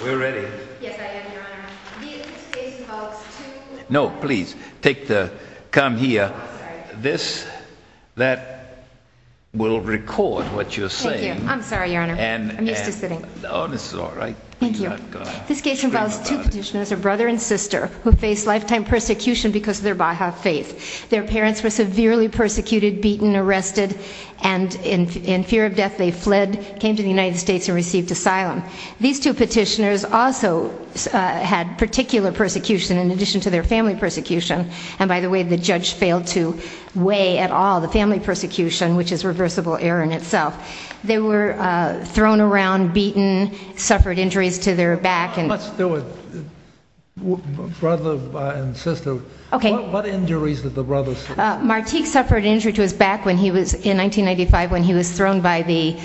This case involves two petitioners, a brother and sister, who faced lifetime persecution because of their Baha'i faith. Their parents were severely persecuted, beaten, arrested, and in fear of death, they fled, came to the United States and received asylum. These two petitioners also had particular persecution in addition to their family persecution, and by the way, the judge failed to weigh at all the family persecution, which is reversible error in itself. They were thrown around, beaten, suffered injuries to their back, and— Let's do it. Brother and sister. Okay. What injuries did the brothers— Martik suffered an injury to his back in 1995 when he was thrown by the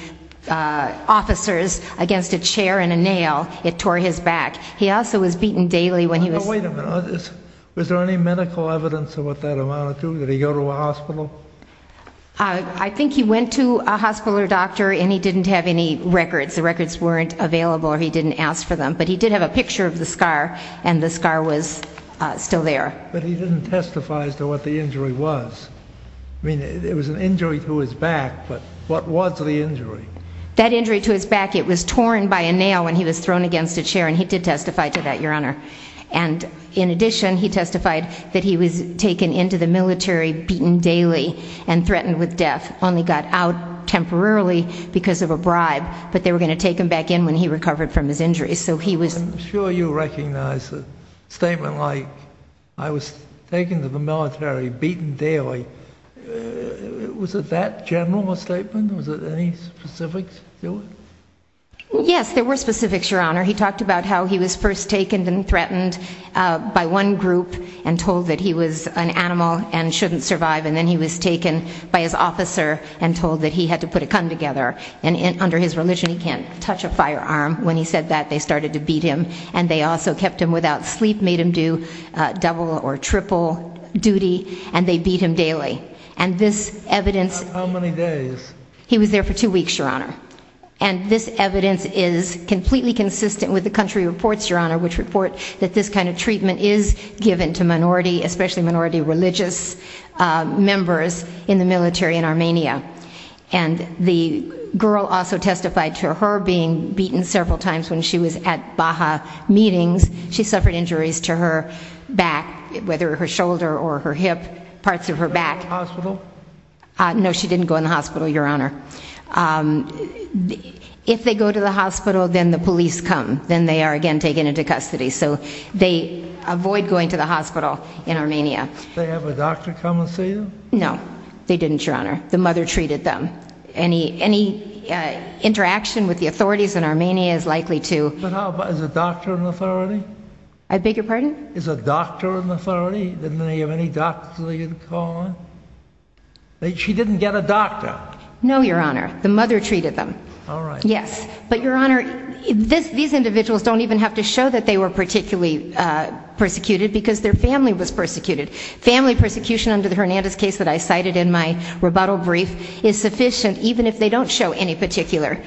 officers against a chair and a nail. It tore his back. He also was beaten daily when he was— Wait a minute. Was there any medical evidence of what that amounted to? Did he go to a hospital? I think he went to a hospital or doctor and he didn't have any records. The records weren't available or he didn't ask for them, but he did have a picture of the scar and the scar was still there. But he didn't testify as to what the injury was. I mean, it was an injury to his back, but what was the injury? That injury to his back, it was torn by a nail when he was thrown against a chair, and he did testify to that, Your Honor. And in addition, he testified that he was taken into the military beaten daily and threatened with death. Only got out temporarily because of a bribe, but they were going to take him back in when he recovered from his injuries. So he was— I'm sure you recognize a statement like, I was taken to the military beaten daily. Was it that general a statement? Was there any specifics to it? Yes, there were specifics, Your Honor. He talked about how he was first taken and threatened by one group and told that he was an animal and shouldn't survive. And then he was taken by his officer and told that he had to put a gun together. And under his religion, he can't touch a firearm. When he said that, they started to beat him. And they also kept him without sleep, made him do double or triple duty, and they beat him daily. And this evidence— How many days? How many days? He was there for two weeks, Your Honor. And this evidence is completely consistent with the country reports, Your Honor, which report that this kind of treatment is given to minority, especially minority religious members in the military in Armenia. And the girl also testified to her being beaten several times when she was at Baha meetings. She suffered injuries to her back, whether her shoulder or her hip, parts of her back. Hospital? No, she didn't go in the hospital, Your Honor. If they go to the hospital, then the police come. Then they are again taken into custody. So they avoid going to the hospital in Armenia. Did they have a doctor come and see them? No, they didn't, Your Honor. The mother treated them. Any interaction with the authorities in Armenia is likely to— But how about—is the doctor an authority? I beg your pardon? Is the doctor an authority? Didn't they have any doctors that they could call on? She didn't get a doctor. No, Your Honor. The mother treated them. All right. Yes. But Your Honor, these individuals don't even have to show that they were particularly persecuted because their family was persecuted. Family persecution under the Hernandez case that I cited in my rebuttal brief is sufficient even if they don't show any particular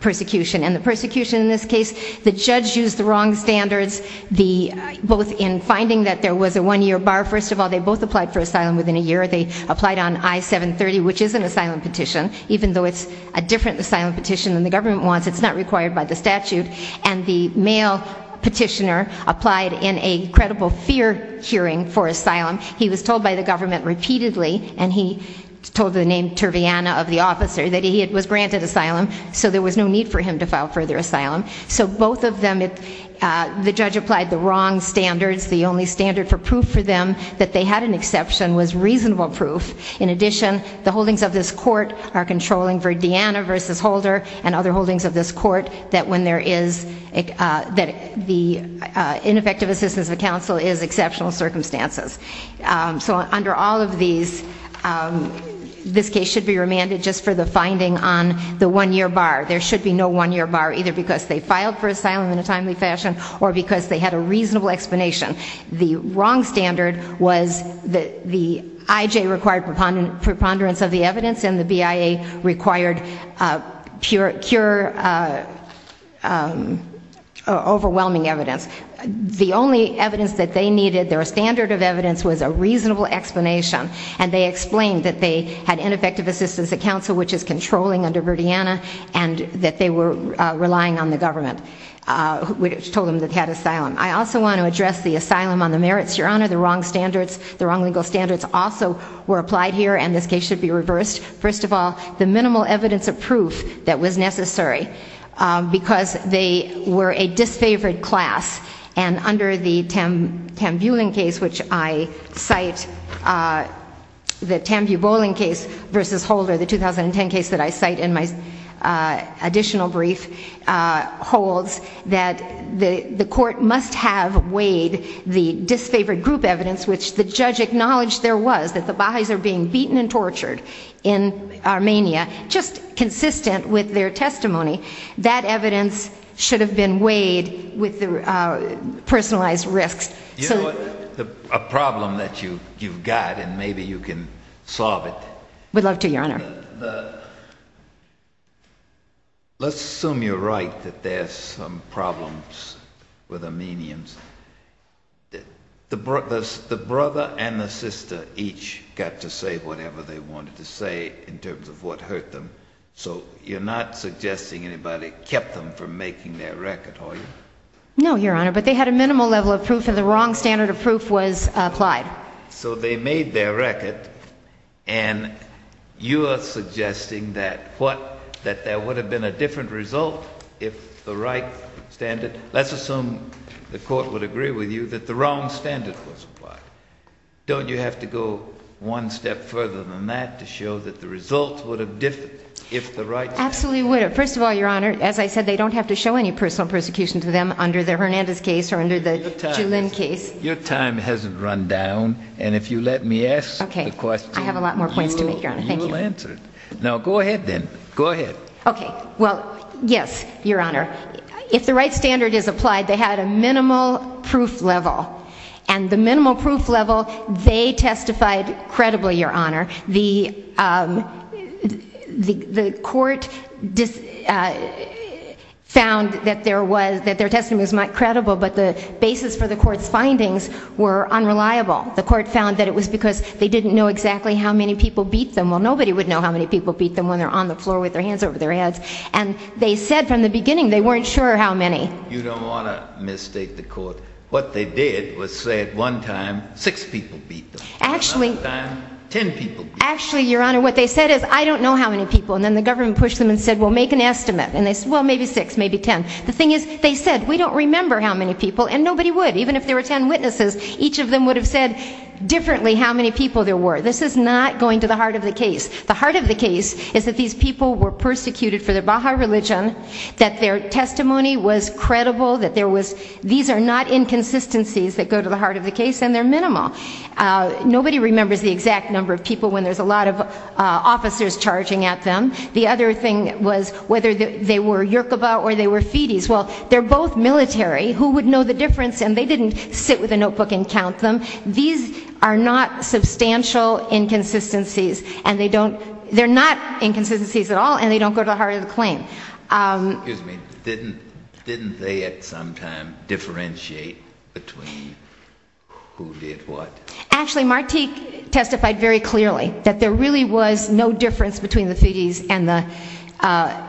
persecution. And the persecution in this case, the judge used the wrong standards, both in finding that there was a one-year bar. First of all, they both applied for asylum within a year. They applied on I-730, which is an asylum petition. Even though it's a different asylum petition than the government wants, it's not required by the statute. And the male petitioner applied in a credible fear hearing for asylum. He was told by the government repeatedly, and he told the name Turviana of the officer, that he was granted asylum, so there was no need for him to file further asylum. So both of them, the judge applied the wrong standards. The only standard for proof for them that they had an exception was reasonable proof. In addition, the holdings of this court are controlling Verdiana versus Holder and other holdings of this court that when there is, that the ineffective assistance of counsel is exceptional circumstances. So under all of these, this case should be remanded just for the finding on the one-year bar. There should be no one-year bar, either because they filed for asylum in a timely fashion or because they had a reasonable explanation. The wrong standard was that the IJ required preponderance of the evidence and the BIA required pure, overwhelming evidence. The only evidence that they needed, their standard of evidence, was a reasonable explanation. And they explained that they had ineffective assistance of counsel, which is controlling under Verdiana, and that they were relying on the government, which told them that they had asylum. I also want to address the asylum on the merits, Your Honor. The wrong standards, the wrong legal standards also were applied here, and this case should be reversed. First of all, the minimal evidence of proof that was necessary, because they were a disfavored class. And under the Tambuling case, which I cite, the Tambuling case versus Holder, the 2010 case that I cite in my additional brief, holds that the court must have weighed the disfavored group evidence, which the judge acknowledged there was, that the Baha'is are being beaten and tortured in Armenia, just consistent with their testimony. That evidence should have been weighed with the personalized risks. You know what? A problem that you've got, and maybe you can solve it. Would love to, Your Honor. Let's assume you're right, that there's some problems with Armenians. The brother and the sister each got to say whatever they wanted to say in terms of what hurt them. So you're not suggesting anybody kept them from making their record, are you? No, Your Honor. But they had a minimal level of proof, and the wrong standard of proof was applied. So they made their record, and you are suggesting that there would have been a different result if the right standard, let's assume the court would agree with you, that the wrong standard was applied. Don't you have to go one step further than that to show that the result would have differed if the right standard? Absolutely would have. First of all, Your Honor, as I said, they don't have to show any personal persecution to them under the Hernandez case or under the Julin case. Your time hasn't run down, and if you let me ask the question, you will answer it. Now go ahead then. Go ahead. Okay. Well, yes, Your Honor. If the right standard is applied, they had a minimal proof level, and the minimal proof level, they testified credibly, Your Honor. The court found that their testimony was not credible, but the basis for the court's findings were unreliable. The court found that it was because they didn't know exactly how many people beat them. Well, nobody would know how many people beat them when they're on the floor with their hands over their heads. And they said from the beginning they weren't sure how many. You don't want to mistake the court. What they did was say at one time six people beat them. Actually, Your Honor, what they said is, I don't know how many people, and then the government pushed them and said, well, make an estimate, and they said, well, maybe six, maybe ten. The thing is, they said, we don't remember how many people, and nobody would. Even if there were ten witnesses, each of them would have said differently how many people there were. This is not going to the heart of the case. The heart of the case is that these people were persecuted for their Baha'i religion, that their testimony was credible, that these are not inconsistencies that go to the heart of the case, and they're minimal. Nobody remembers the exact number of people when there's a lot of officers charging at them. The other thing was whether they were Yoruba or they were Fides. Well, they're both military. Who would know the difference? And they didn't sit with a notebook and count them. These are not substantial inconsistencies, and they don't, they're not inconsistencies at all, and they don't go to the heart of the claim. Excuse me, didn't they at some time differentiate between who did what? Actually, Martik testified very clearly that there really was no difference between the Fides and the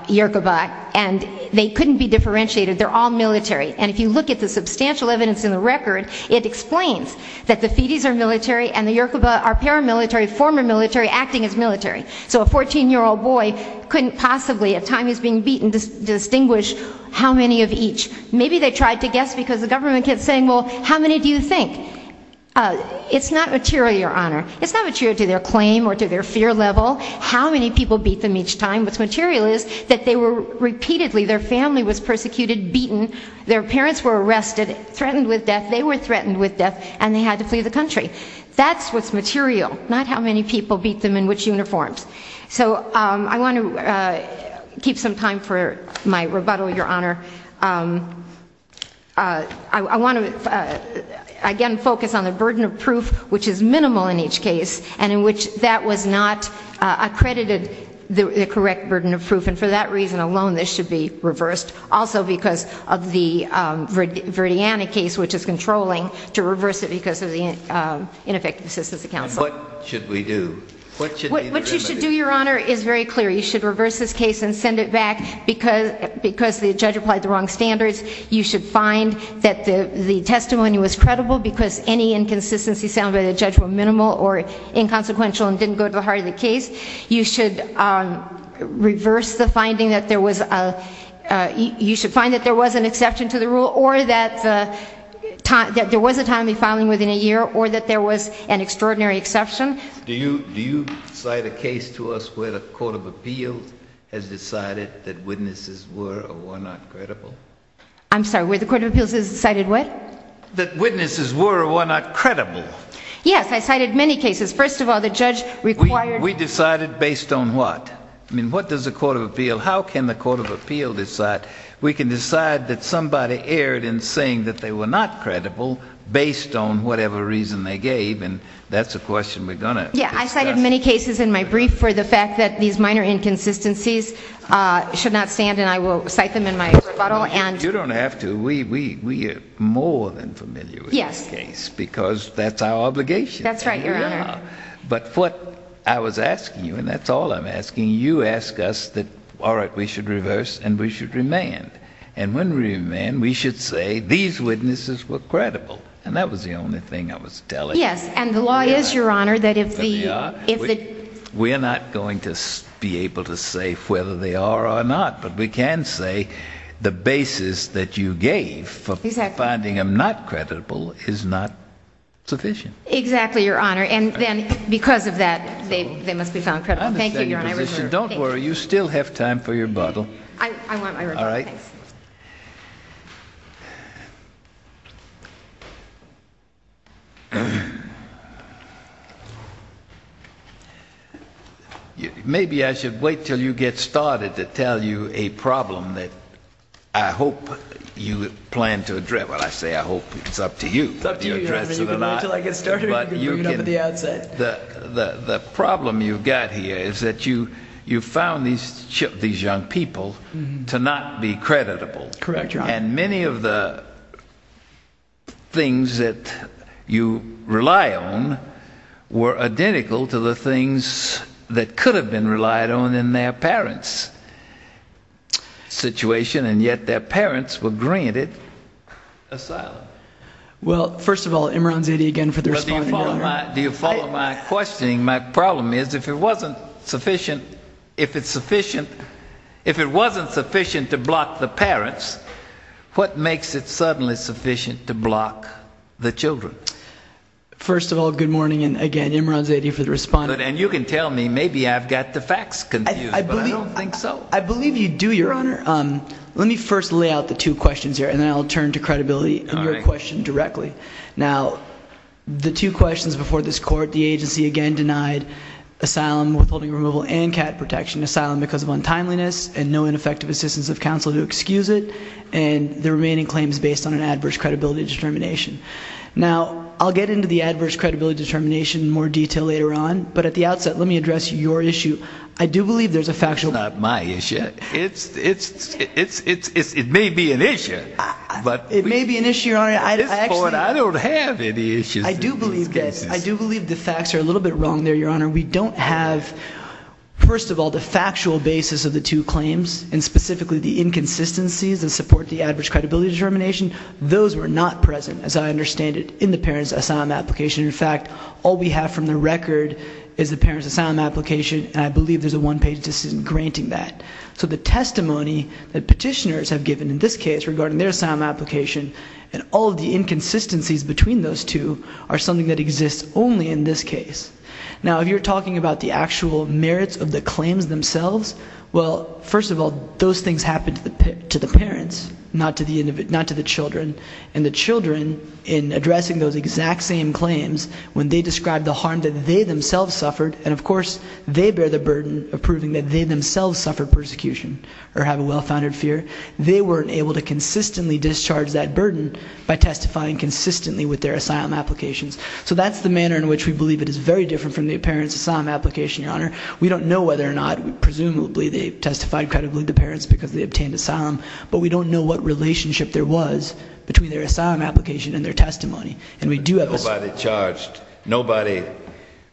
Yoruba, and they couldn't be differentiated. They're all military. And if you look at the substantial evidence in the record, it explains that the Fides are military and the Yoruba are paramilitary, former military, acting as military. So a 14-year-old boy couldn't possibly, at a time he's being beaten, distinguish how many of each. Maybe they tried to guess because the government kept saying, well, how many do you think? It's not material, Your Honor. It's not material to their claim or to their fear level, how many people beat them each time. What's material is that they were repeatedly, their family was persecuted, beaten. Their parents were arrested, threatened with death. They were threatened with death, and they had to flee the country. That's what's material. Not how many people beat them in which uniforms. So I want to keep some time for my rebuttal, Your Honor. I want to, again, focus on the burden of proof, which is minimal in each case, and in which that was not accredited, the correct burden of proof. And for that reason alone, this should be reversed. Also because of the Verdiana case, which is controlling, to reverse it because of the What should we do? What should be the remedy? What you should do, Your Honor, is very clear. You should reverse this case and send it back because the judge applied the wrong standards. You should find that the testimony was credible because any inconsistency sounded by the judge were minimal or inconsequential and didn't go to the heart of the case. You should reverse the finding that there was a, you should find that there was an exception to the rule or that there was a timely filing within a year or that there was an extraordinary exception. Do you cite a case to us where the Court of Appeals has decided that witnesses were or were not credible? I'm sorry, where the Court of Appeals has cited what? That witnesses were or were not credible. Yes, I cited many cases. First of all, the judge required We decided based on what? What does the Court of Appeals, how can the Court of Appeals decide? We can decide that somebody erred in saying that they were not credible based on whatever reason they gave, and that's a question we're going to discuss. Yeah, I cited many cases in my brief for the fact that these minor inconsistencies should not stand, and I will cite them in my rebuttal. You don't have to. We are more than familiar with this case because that's our obligation. That's right, Your Honor. But what I was asking you, and that's all I'm asking, you ask us that, all right, we should reverse and we should remand. And when we remand, we should say these witnesses were credible, and that was the only thing I was telling you. Yes, and the law is, Your Honor, that if the... We are not going to be able to say whether they are or not, but we can say the basis that you gave for finding them not credible is not sufficient. Exactly, Your Honor, and then because of that, they must be found credible. Thank you, Your Honor. Don't worry, you still have time for your rebuttal. I want my rebuttal, thank you. Maybe I should wait until you get started to tell you a problem that I hope you plan to address. Well, I say I hope, it's up to you. It's up to you, Your Honor. You can wait until I get started or you can bring it up at the outset. The problem you've got here is that you found these young people to not be creditable. Correct, Your Honor. And many of the things that you rely on were identical to the things that could have been relied on in their parents' situation, and yet their parents were granted asylum. Well, first of all, Imran Zaidi again for the response, Your Honor. Do you follow my questioning? My problem is, if it wasn't sufficient to block the parents, what makes it suddenly sufficient to block the children? First of all, good morning, and again, Imran Zaidi for the response. And you can tell me, maybe I've got the facts confused, but I don't think so. I believe you do, Your Honor. Let me first lay out the two questions here, and then I'll turn to credibility in your question directly. Now, the two questions before this Court, the agency again denied asylum withholding removal and CAT protection, asylum because of untimeliness and no ineffective assistance of counsel to excuse it, and the remaining claims based on an adverse credibility determination. Now, I'll get into the adverse credibility determination in more detail later on, but at the outset, let me address your issue. I do believe there's a factual- It's not my issue. It may be an issue, Your Honor. At this point, I don't have any issues in these cases. I do believe the facts are a little bit wrong there, Your Honor. We don't have, first of all, the factual basis of the two claims, and specifically the inconsistencies that support the adverse credibility determination. Those were not present, as I understand it, in the parents' asylum application. In fact, all we have from the record is the parents' asylum application, and I believe there's a one-page decision granting that. So the testimony that petitioners have given in this case regarding their asylum application and all of the inconsistencies between those two are something that exists only in this case. Now, if you're talking about the actual merits of the claims themselves, well, first of all, those things happened to the parents, not to the children, and the children, in addressing those exact same claims, when they described the harm that they themselves suffered, and of course, they bear the burden of proving that they themselves suffered persecution or have a well-founded fear. They weren't able to consistently discharge that burden by testifying consistently with their asylum applications. So that's the manner in which we believe it is very different from the parents' asylum application, Your Honor. We don't know whether or not, presumably, they testified credibly to parents because they obtained asylum, but we don't know what relationship there was between their asylum application and their testimony. And we do have a... But nobody charged, nobody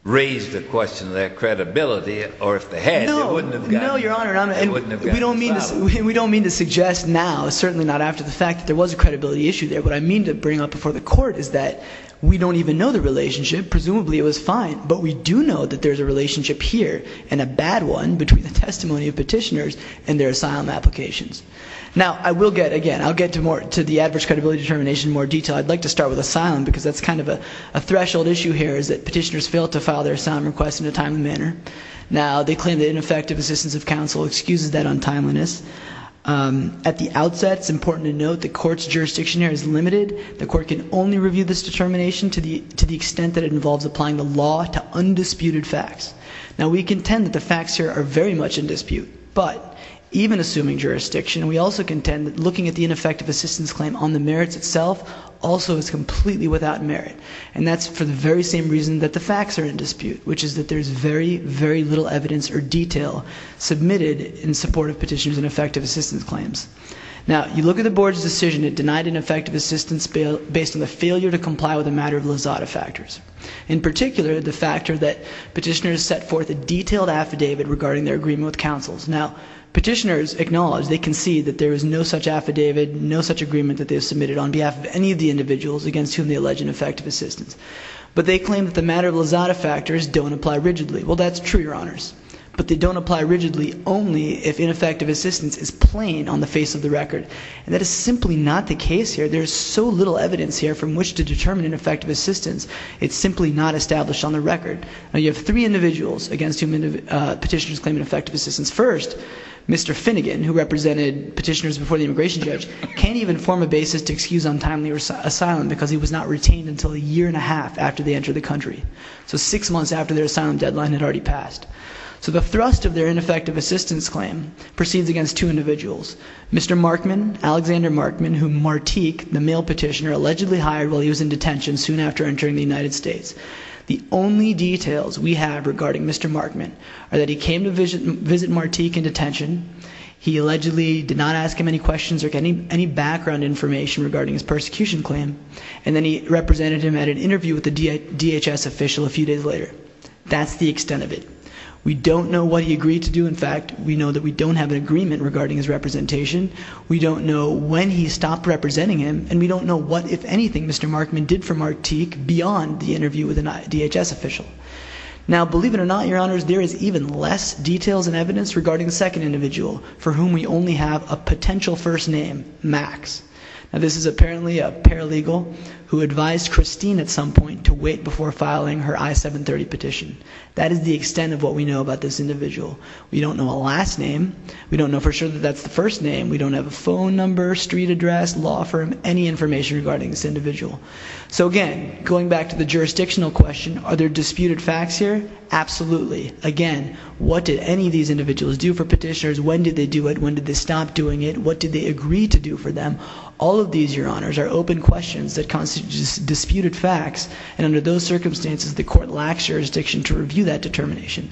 raised the question of their credibility, or if they had, they wouldn't have gotten... No, Your Honor. They wouldn't have gotten asylum. We don't mean to suggest now, certainly not after the fact, that there was a credibility issue there. What I mean to bring up before the Court is that we don't even know the relationship. Presumably, it was fine, but we do know that there's a relationship here, and a bad one, between the testimony of petitioners and their asylum applications. Now, I will get, again, I'll get to the adverse credibility determination in more detail. I'd like to start with asylum, because that's kind of a threshold issue here, is that petitioners fail to file their asylum requests in a timely manner. Now, they claim the ineffective assistance of counsel excuses that untimeliness. At the outset, it's important to note the Court's jurisdiction here is limited. The Court can only review this determination to the extent that it involves applying the law to undisputed facts. Now, we contend that the facts here are very much in dispute, but even assuming jurisdiction, we also contend that looking at the ineffective assistance claim on the merits itself also is completely without merit. And that's for the very same reason that the facts are in dispute, which is that there's very, very little evidence or detail submitted in support of petitioners' ineffective assistance claims. Now, you look at the Board's decision that denied ineffective assistance based on the failure to comply with a matter of lazada factors. In particular, the factor that petitioners set forth a detailed affidavit regarding their agreement with counsels. Now, petitioners acknowledge, they concede that there is no such affidavit, no such agreement that they have submitted on behalf of any of the individuals against whom they allege ineffective assistance. But they claim that the matter of lazada factors don't apply rigidly. Well, that's true, Your Honors. But they don't apply rigidly only if ineffective assistance is plain on the face of the record. And that is simply not the case here. There's so little evidence here from which to determine ineffective assistance. It's simply not established on the record. Now, you have three individuals against whom petitioners claim ineffective assistance. First, Mr. Finnegan, who represented petitioners before the immigration judge, can't even form a basis to excuse untimely asylum because he was not retained until a year and a half after they entered the country. So six months after their asylum deadline had already passed. So the thrust of their ineffective assistance claim proceeds against two individuals. Mr. Markman, Alexander Markman, whom Martique, the male petitioner, allegedly hired while he was in detention soon after entering the United States. The only details we have regarding Mr. Markman are that he came to visit Martique in detention. He allegedly did not ask him any questions or any background information regarding his persecution claim. And then he represented him at an interview with a DHS official a few days later. That's the extent of it. We don't know what he agreed to do, in fact. We know that we don't have an agreement regarding his representation. We don't know when he stopped representing him. And we don't know what, if anything, Mr. Markman did for Martique beyond the interview with a DHS official. Now, believe it or not, Your Honors, there is even less details and evidence regarding the second individual, for whom we only have a potential first name, Max. This is apparently a paralegal who advised Christine at some point to wait before filing her I-730 petition. That is the extent of what we know about this individual. We don't know a last name. We don't know for sure that that's the first name. We don't have a phone number, street address, law firm, any information regarding this individual. So again, going back to the jurisdictional question, are there disputed facts here? Absolutely. Again, what did any of these individuals do for petitioners? When did they do it? When did they stop doing it? What did they agree to do for them? All of these, Your Honors, are open questions that constitute disputed facts, and under those circumstances, the court lacks jurisdiction to review that determination.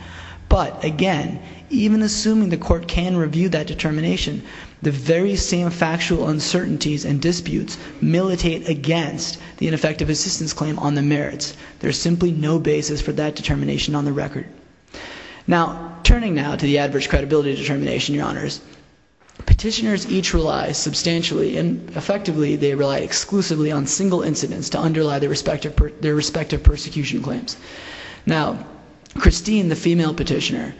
But again, even assuming the court can review that determination, the very same factual uncertainties and disputes militate against the ineffective assistance claim on the merits. There's simply no basis for that determination on the record. Now, turning now to the adverse credibility determination, Your Honors, petitioners each rely substantially, and effectively, they rely exclusively on single incidents to underlie their respective persecution claims. Now, Christine, the female petitioner,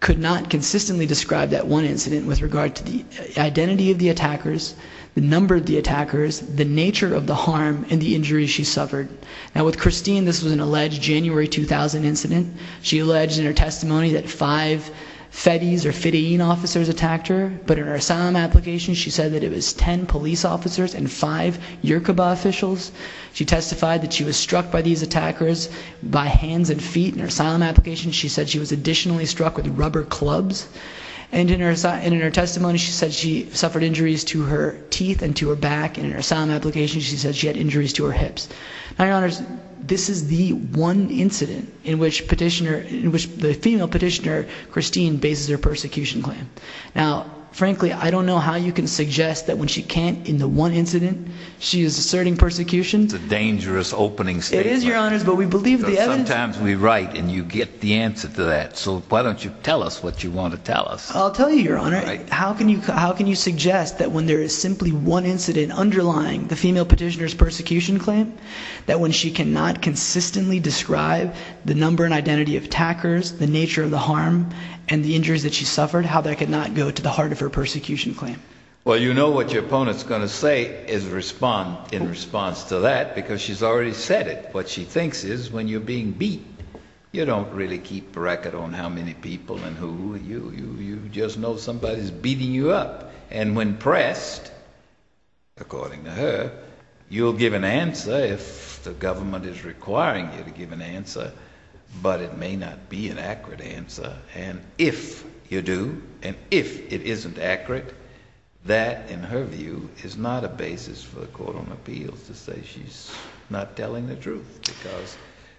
could not consistently describe that one incident with regard to the identity of the attackers, the number of the attackers, the nature of the harm and the injuries she suffered. Now, with Christine, this was an alleged January 2000 incident. She alleged in her testimony that five FETIs or FIDEEN officers attacked her, but in her asylum application, she said that it was ten police officers and five Yoruba officials. She testified that she was struck by these attackers by hands and feet. In her asylum application, she said she was additionally struck with rubber clubs. And in her testimony, she said she suffered injuries to her teeth and to her back. In her asylum application, she said she had injuries to her hips. Now, Your Honors, this is the one incident in which the female petitioner, Christine, bases her persecution claim. Now, frankly, I don't know how you can suggest that when she can't, in the one incident, she is asserting persecution. It's a dangerous opening statement. It is, Your Honors, but we believe the evidence. Sometimes we write and you get the answer to that, so why don't you tell us what you want to tell us. I'll tell you, Your Honor. How can you suggest that when there is simply one incident underlying the female petitioner's persecution claim, that when she cannot consistently describe the number and identity of attackers, the nature of the harm, and the injuries that she suffered, how that could not go to the heart of her persecution claim? Well, you know what your opponent's going to say in response to that, because she's already said it. What she thinks is, when you're being beat, you don't really keep a record on how many people and who are you. You just know somebody's beating you up. And when pressed, according to her, you'll give an answer if the government is requiring you to give an answer, but it may not be an accurate answer. And if you do, and if it isn't accurate, that, in her view, is not a basis for the Court on Appeals to say she's not telling the truth, because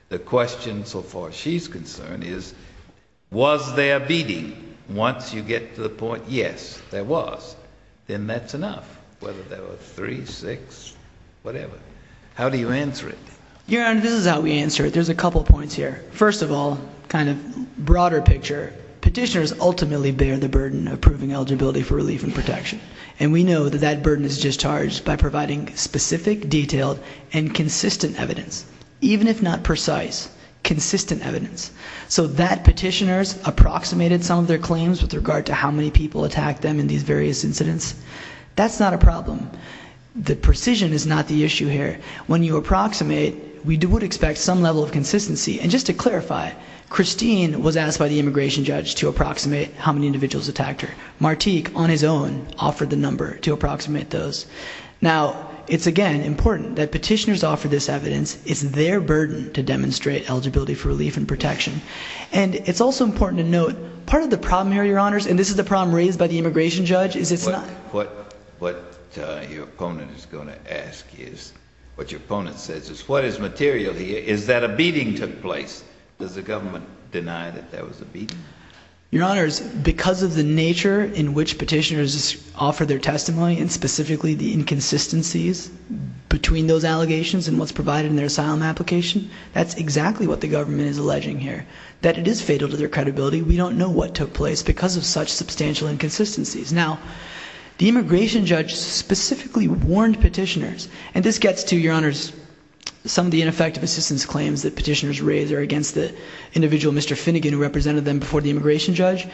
the question, so far as she's concerned, is, was there beating? Once you get to the point, yes, there was, then that's enough, whether there were three, six, whatever. How do you answer it? Your Honor, this is how we answer it. There's a couple points here. First of all, kind of broader picture, petitioners ultimately bear the burden of proving eligibility for relief and protection. And we know that that burden is discharged by providing specific, detailed, and consistent evidence, even if not precise, consistent evidence. So that petitioners approximated some of their claims with regard to how many people attacked them in these various incidents. That's not a problem. The precision is not the issue here. When you approximate, we would expect some level of consistency. And just to clarify, Christine was asked by the immigration judge to approximate how many individuals attacked her. Martique, on his own, offered the number to approximate those. Now, it's again important that petitioners offer this evidence. It's their burden to demonstrate eligibility for relief and protection. And it's also important to note, part of the problem here, Your Honors, and this is the problem raised by the immigration judge, is it's not- What your opponent is going to ask is, what your opponent says is, what is material here? Is that a beating took place? Does the government deny that that was a beating? Your Honors, because of the nature in which petitioners offer their testimony, and specifically the inconsistencies between those allegations and what's provided in their asylum application, that's exactly what the government is alleging here, that it is fatal to their credibility. We don't know what took place because of such substantial inconsistencies. Now, the immigration judge specifically warned petitioners, and this gets to, Your Honors, some of the ineffective assistance claims that petitioners raise are against the individual, Mr. Finnegan, who represented them before the immigration judge.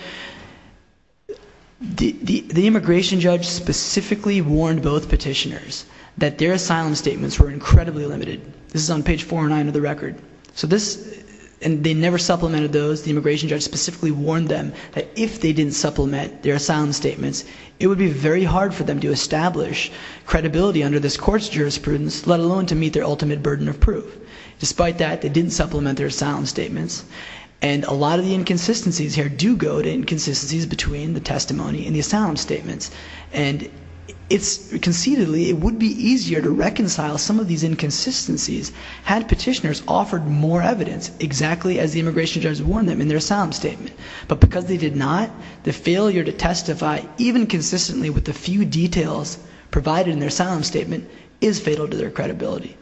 The immigration judge specifically warned both petitioners that their asylum statements were incredibly limited. This is on page 409 of the record. So this, and they never supplemented those, the immigration judge specifically warned them that if they didn't supplement their asylum statements, it would be very hard for them to establish credibility under this court's jurisprudence, let alone to meet their ultimate burden of proof. Despite that, they didn't supplement their asylum statements, and a lot of the inconsistencies here do go to inconsistencies between the testimony and the asylum statements. And conceitedly, it would be easier to reconcile some of these inconsistencies had petitioners offered more evidence, exactly as the immigration judge warned them in their asylum statement. But because they did not, the failure to testify, even consistently with the few details provided in their asylum statement, is fatal to their credibility.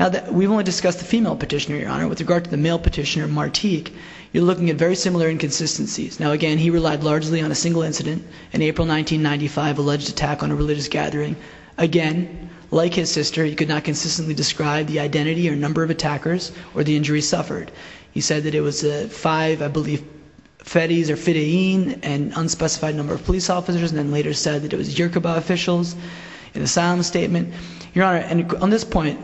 Now, we won't discuss the female petitioner, Your Honor. With regard to the male petitioner, Martique, you're looking at very similar inconsistencies. Now again, he relied largely on a single incident, an April 1995 alleged attack on a religious gathering. Again, like his sister, he could not consistently describe the identity or number of attackers or the injuries suffered. He said that it was five, I believe, fedis or fidayeen, an unspecified number of police officers, and then later said that it was Yoruba officials in the asylum statement. Your Honor, on this point,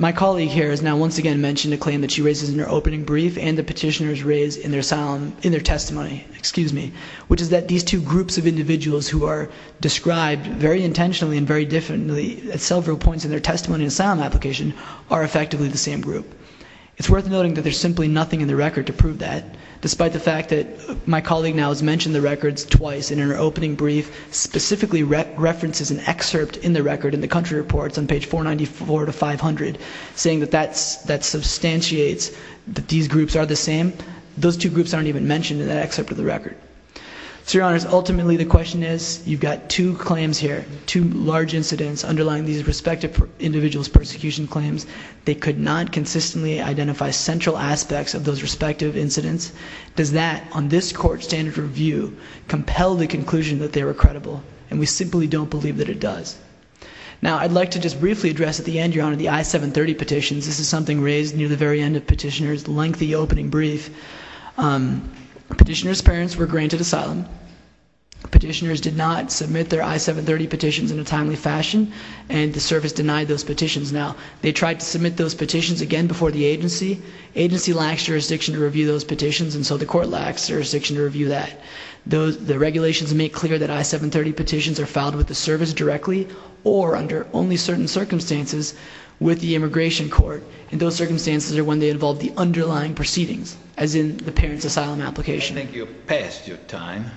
my colleague here has now once again mentioned a claim that she raises in her opening brief and the petitioners raise in their testimony, which is that these two groups of individuals who are described very intentionally and very differently at several points in their testimony and asylum application are effectively the same group. It's worth noting that there's simply nothing in the record to prove that, despite the fact that my colleague now has mentioned the records twice and in her opening brief specifically references an excerpt in the record in the country reports on page 494 to 500, saying that that substantiates that these groups are the same. Those two groups aren't even mentioned in that excerpt of the record. So, Your Honors, ultimately the question is, you've got two claims here, two large incidents underlying these respective individuals' persecution claims. They could not consistently identify central aspects of those respective incidents. Does that, on this court standard review, compel the conclusion that they were credible? And we simply don't believe that it does. Now, I'd like to just briefly address at the end, Your Honor, the I-730 petitions. This is something raised near the very end of petitioner's lengthy opening brief. Petitioner's parents were granted asylum. Petitioners did not submit their I-730 petitions in a timely fashion, and the service denied those petitions. Now, they tried to submit those petitions again before the agency. Agency lacks jurisdiction to review those petitions, and so the court lacks jurisdiction to review that. The regulations make clear that I-730 petitions are filed with the service directly or under only certain circumstances with the immigration court, and those circumstances are when they involve the underlying proceedings, as in the parent's asylum application. I think you're past your time.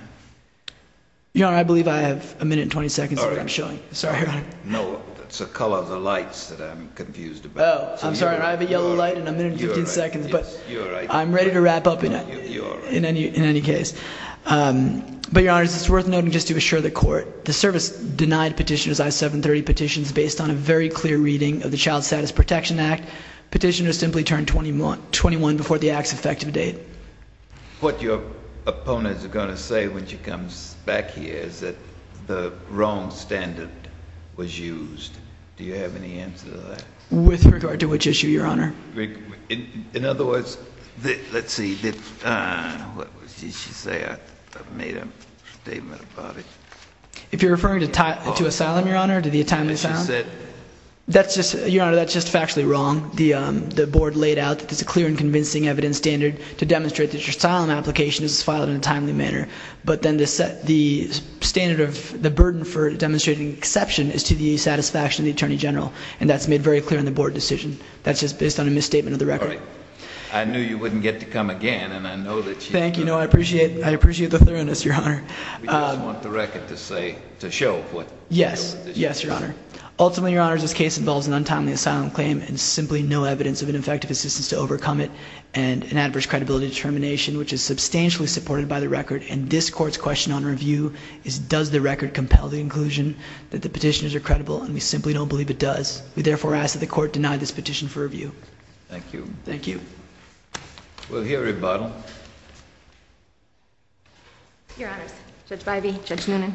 Your Honor, I believe I have a minute and 20 seconds of what I'm showing. Sorry, Your Honor. No, it's the color of the lights that I'm confused about. Oh, I'm sorry. I have a yellow light and a minute and 15 seconds, but I'm ready to wrap up in any case. But, Your Honor, it's worth noting just to assure the court, the service denied petitioner's I-730 petitions based on a very clear reading of the Child Status Protection Act. Petitioners simply turned 21 before the act's effective date. What your opponents are going to say when she comes back here is that the wrong standard was used. Do you have any answer to that? With regard to which issue, Your Honor? In other words, let's see, what did she say? I made a statement about it. If you're referring to asylum, Your Honor, to the atonement asylum? That's just factually wrong. The board laid out that there's a clear and convincing evidence standard to demonstrate that your asylum application is filed in a timely manner, but then the standard of the burden for demonstrating exception is to the satisfaction of the Attorney General, and that's made very clear in the board decision. That's just based on a misstatement of the record. All right. I knew you wouldn't get to come again, and I know that you do. Thank you. No, I appreciate the thoroughness, Your Honor. We just want the record to show what the petitioner said. Yes. Yes, Your Honor. Ultimately, Your Honor, this case involves an untimely asylum claim and simply no evidence of an effective assistance to overcome it and an adverse credibility determination, which is substantially supported by the record, and this court's question on review is does the record compel the inclusion that the petitioners are credible, and we simply don't believe it does. We therefore ask that the court deny this petition for review. Thank you. Thank you. We'll hear a rebuttal. Your Honors, Judge Bybee, Judge Noonan,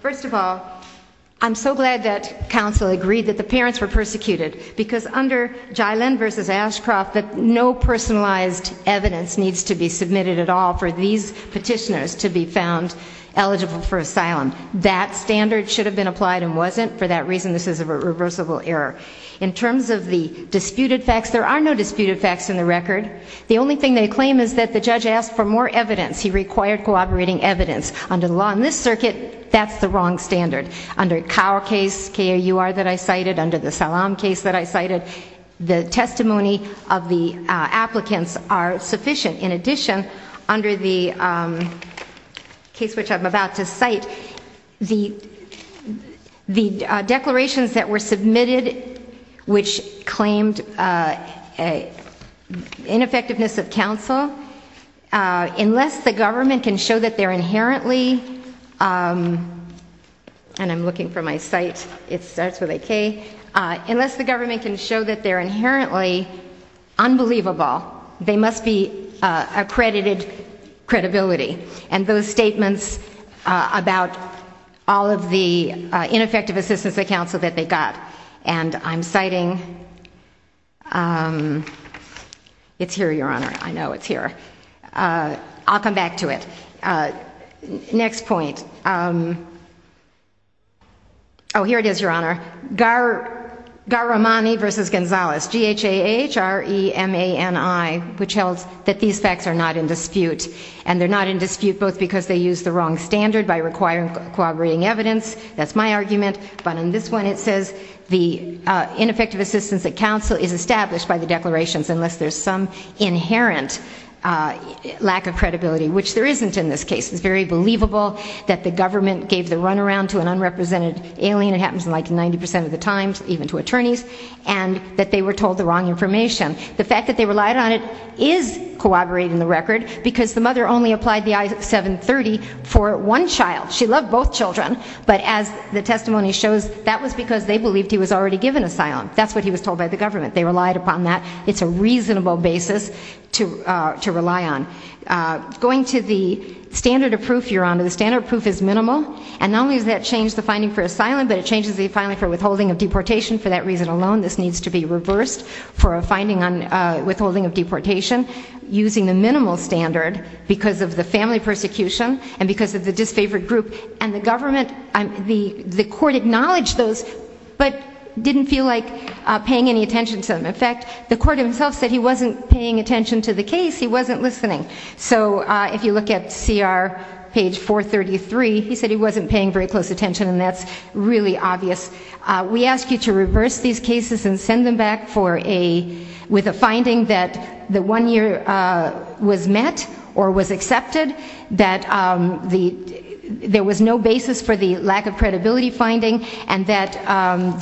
first of all, I'm so glad that counsel agreed that the parents were persecuted, because under Jailen v. Ashcroft, no personalized evidence needs to be submitted at all for these petitioners to be found eligible for asylum. That standard should have been applied and wasn't. For that reason, this is a reversible error. In terms of the disputed facts, there are no disputed facts in the record. The only thing they claim is that the judge asked for more evidence. He required cooperating evidence. Under the law in this circuit, that's the wrong standard. Under Kaur case, K-A-U-R that I cited, under the Salaam case that I cited, the testimony of the applicants are sufficient. In addition, under the case which I'm about to cite, the declarations that were submitted which claimed ineffectiveness of counsel, unless the government can show that they're inherently, and I'm looking for my site, it starts with a K, unless the government can show that they're inherently unbelievable, they must be accredited credibility. And those statements about all of the ineffective assistance of counsel that they got. And I'm citing, it's here, Your Honor, I know it's here. I'll come back to it. Next point. Oh, here it is, Your Honor. Garamani v. Gonzalez, G-H-A-H-R-E-M-A-N-I, which held that these facts are not in dispute. And they're not in dispute both because they use the wrong standard by requiring cooperating evidence, that's my argument, but in this one it says the ineffective assistance of counsel is established by the declarations unless there's some inherent lack of credibility, which there isn't in this case. It's very believable that the government gave the runaround to an unrepresented alien. And it happens like 90% of the time, even to attorneys, and that they were told the wrong information. The fact that they relied on it is corroborating the record because the mother only applied the I-730 for one child. She loved both children, but as the testimony shows, that was because they believed he was already given asylum. That's what he was told by the government. They relied upon that. It's a reasonable basis to rely on. Going to the standard of proof, Your Honor, the standard of proof is minimal, and not changes the filing for withholding of deportation. For that reason alone, this needs to be reversed for a finding on withholding of deportation using the minimal standard because of the family persecution and because of the disfavored group. And the government, the court acknowledged those, but didn't feel like paying any attention to them. In fact, the court himself said he wasn't paying attention to the case. He wasn't listening. So if you look at CR page 433, he said he wasn't paying very close attention, and that's really obvious. We ask you to reverse these cases and send them back with a finding that the one year was met or was accepted, that there was no basis for the lack of credibility finding, and that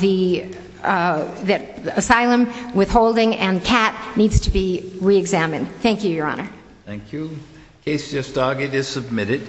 the asylum withholding and CAT needs to be reexamined. Thank you, Your Honor. Thank you. The case just argued is submitted.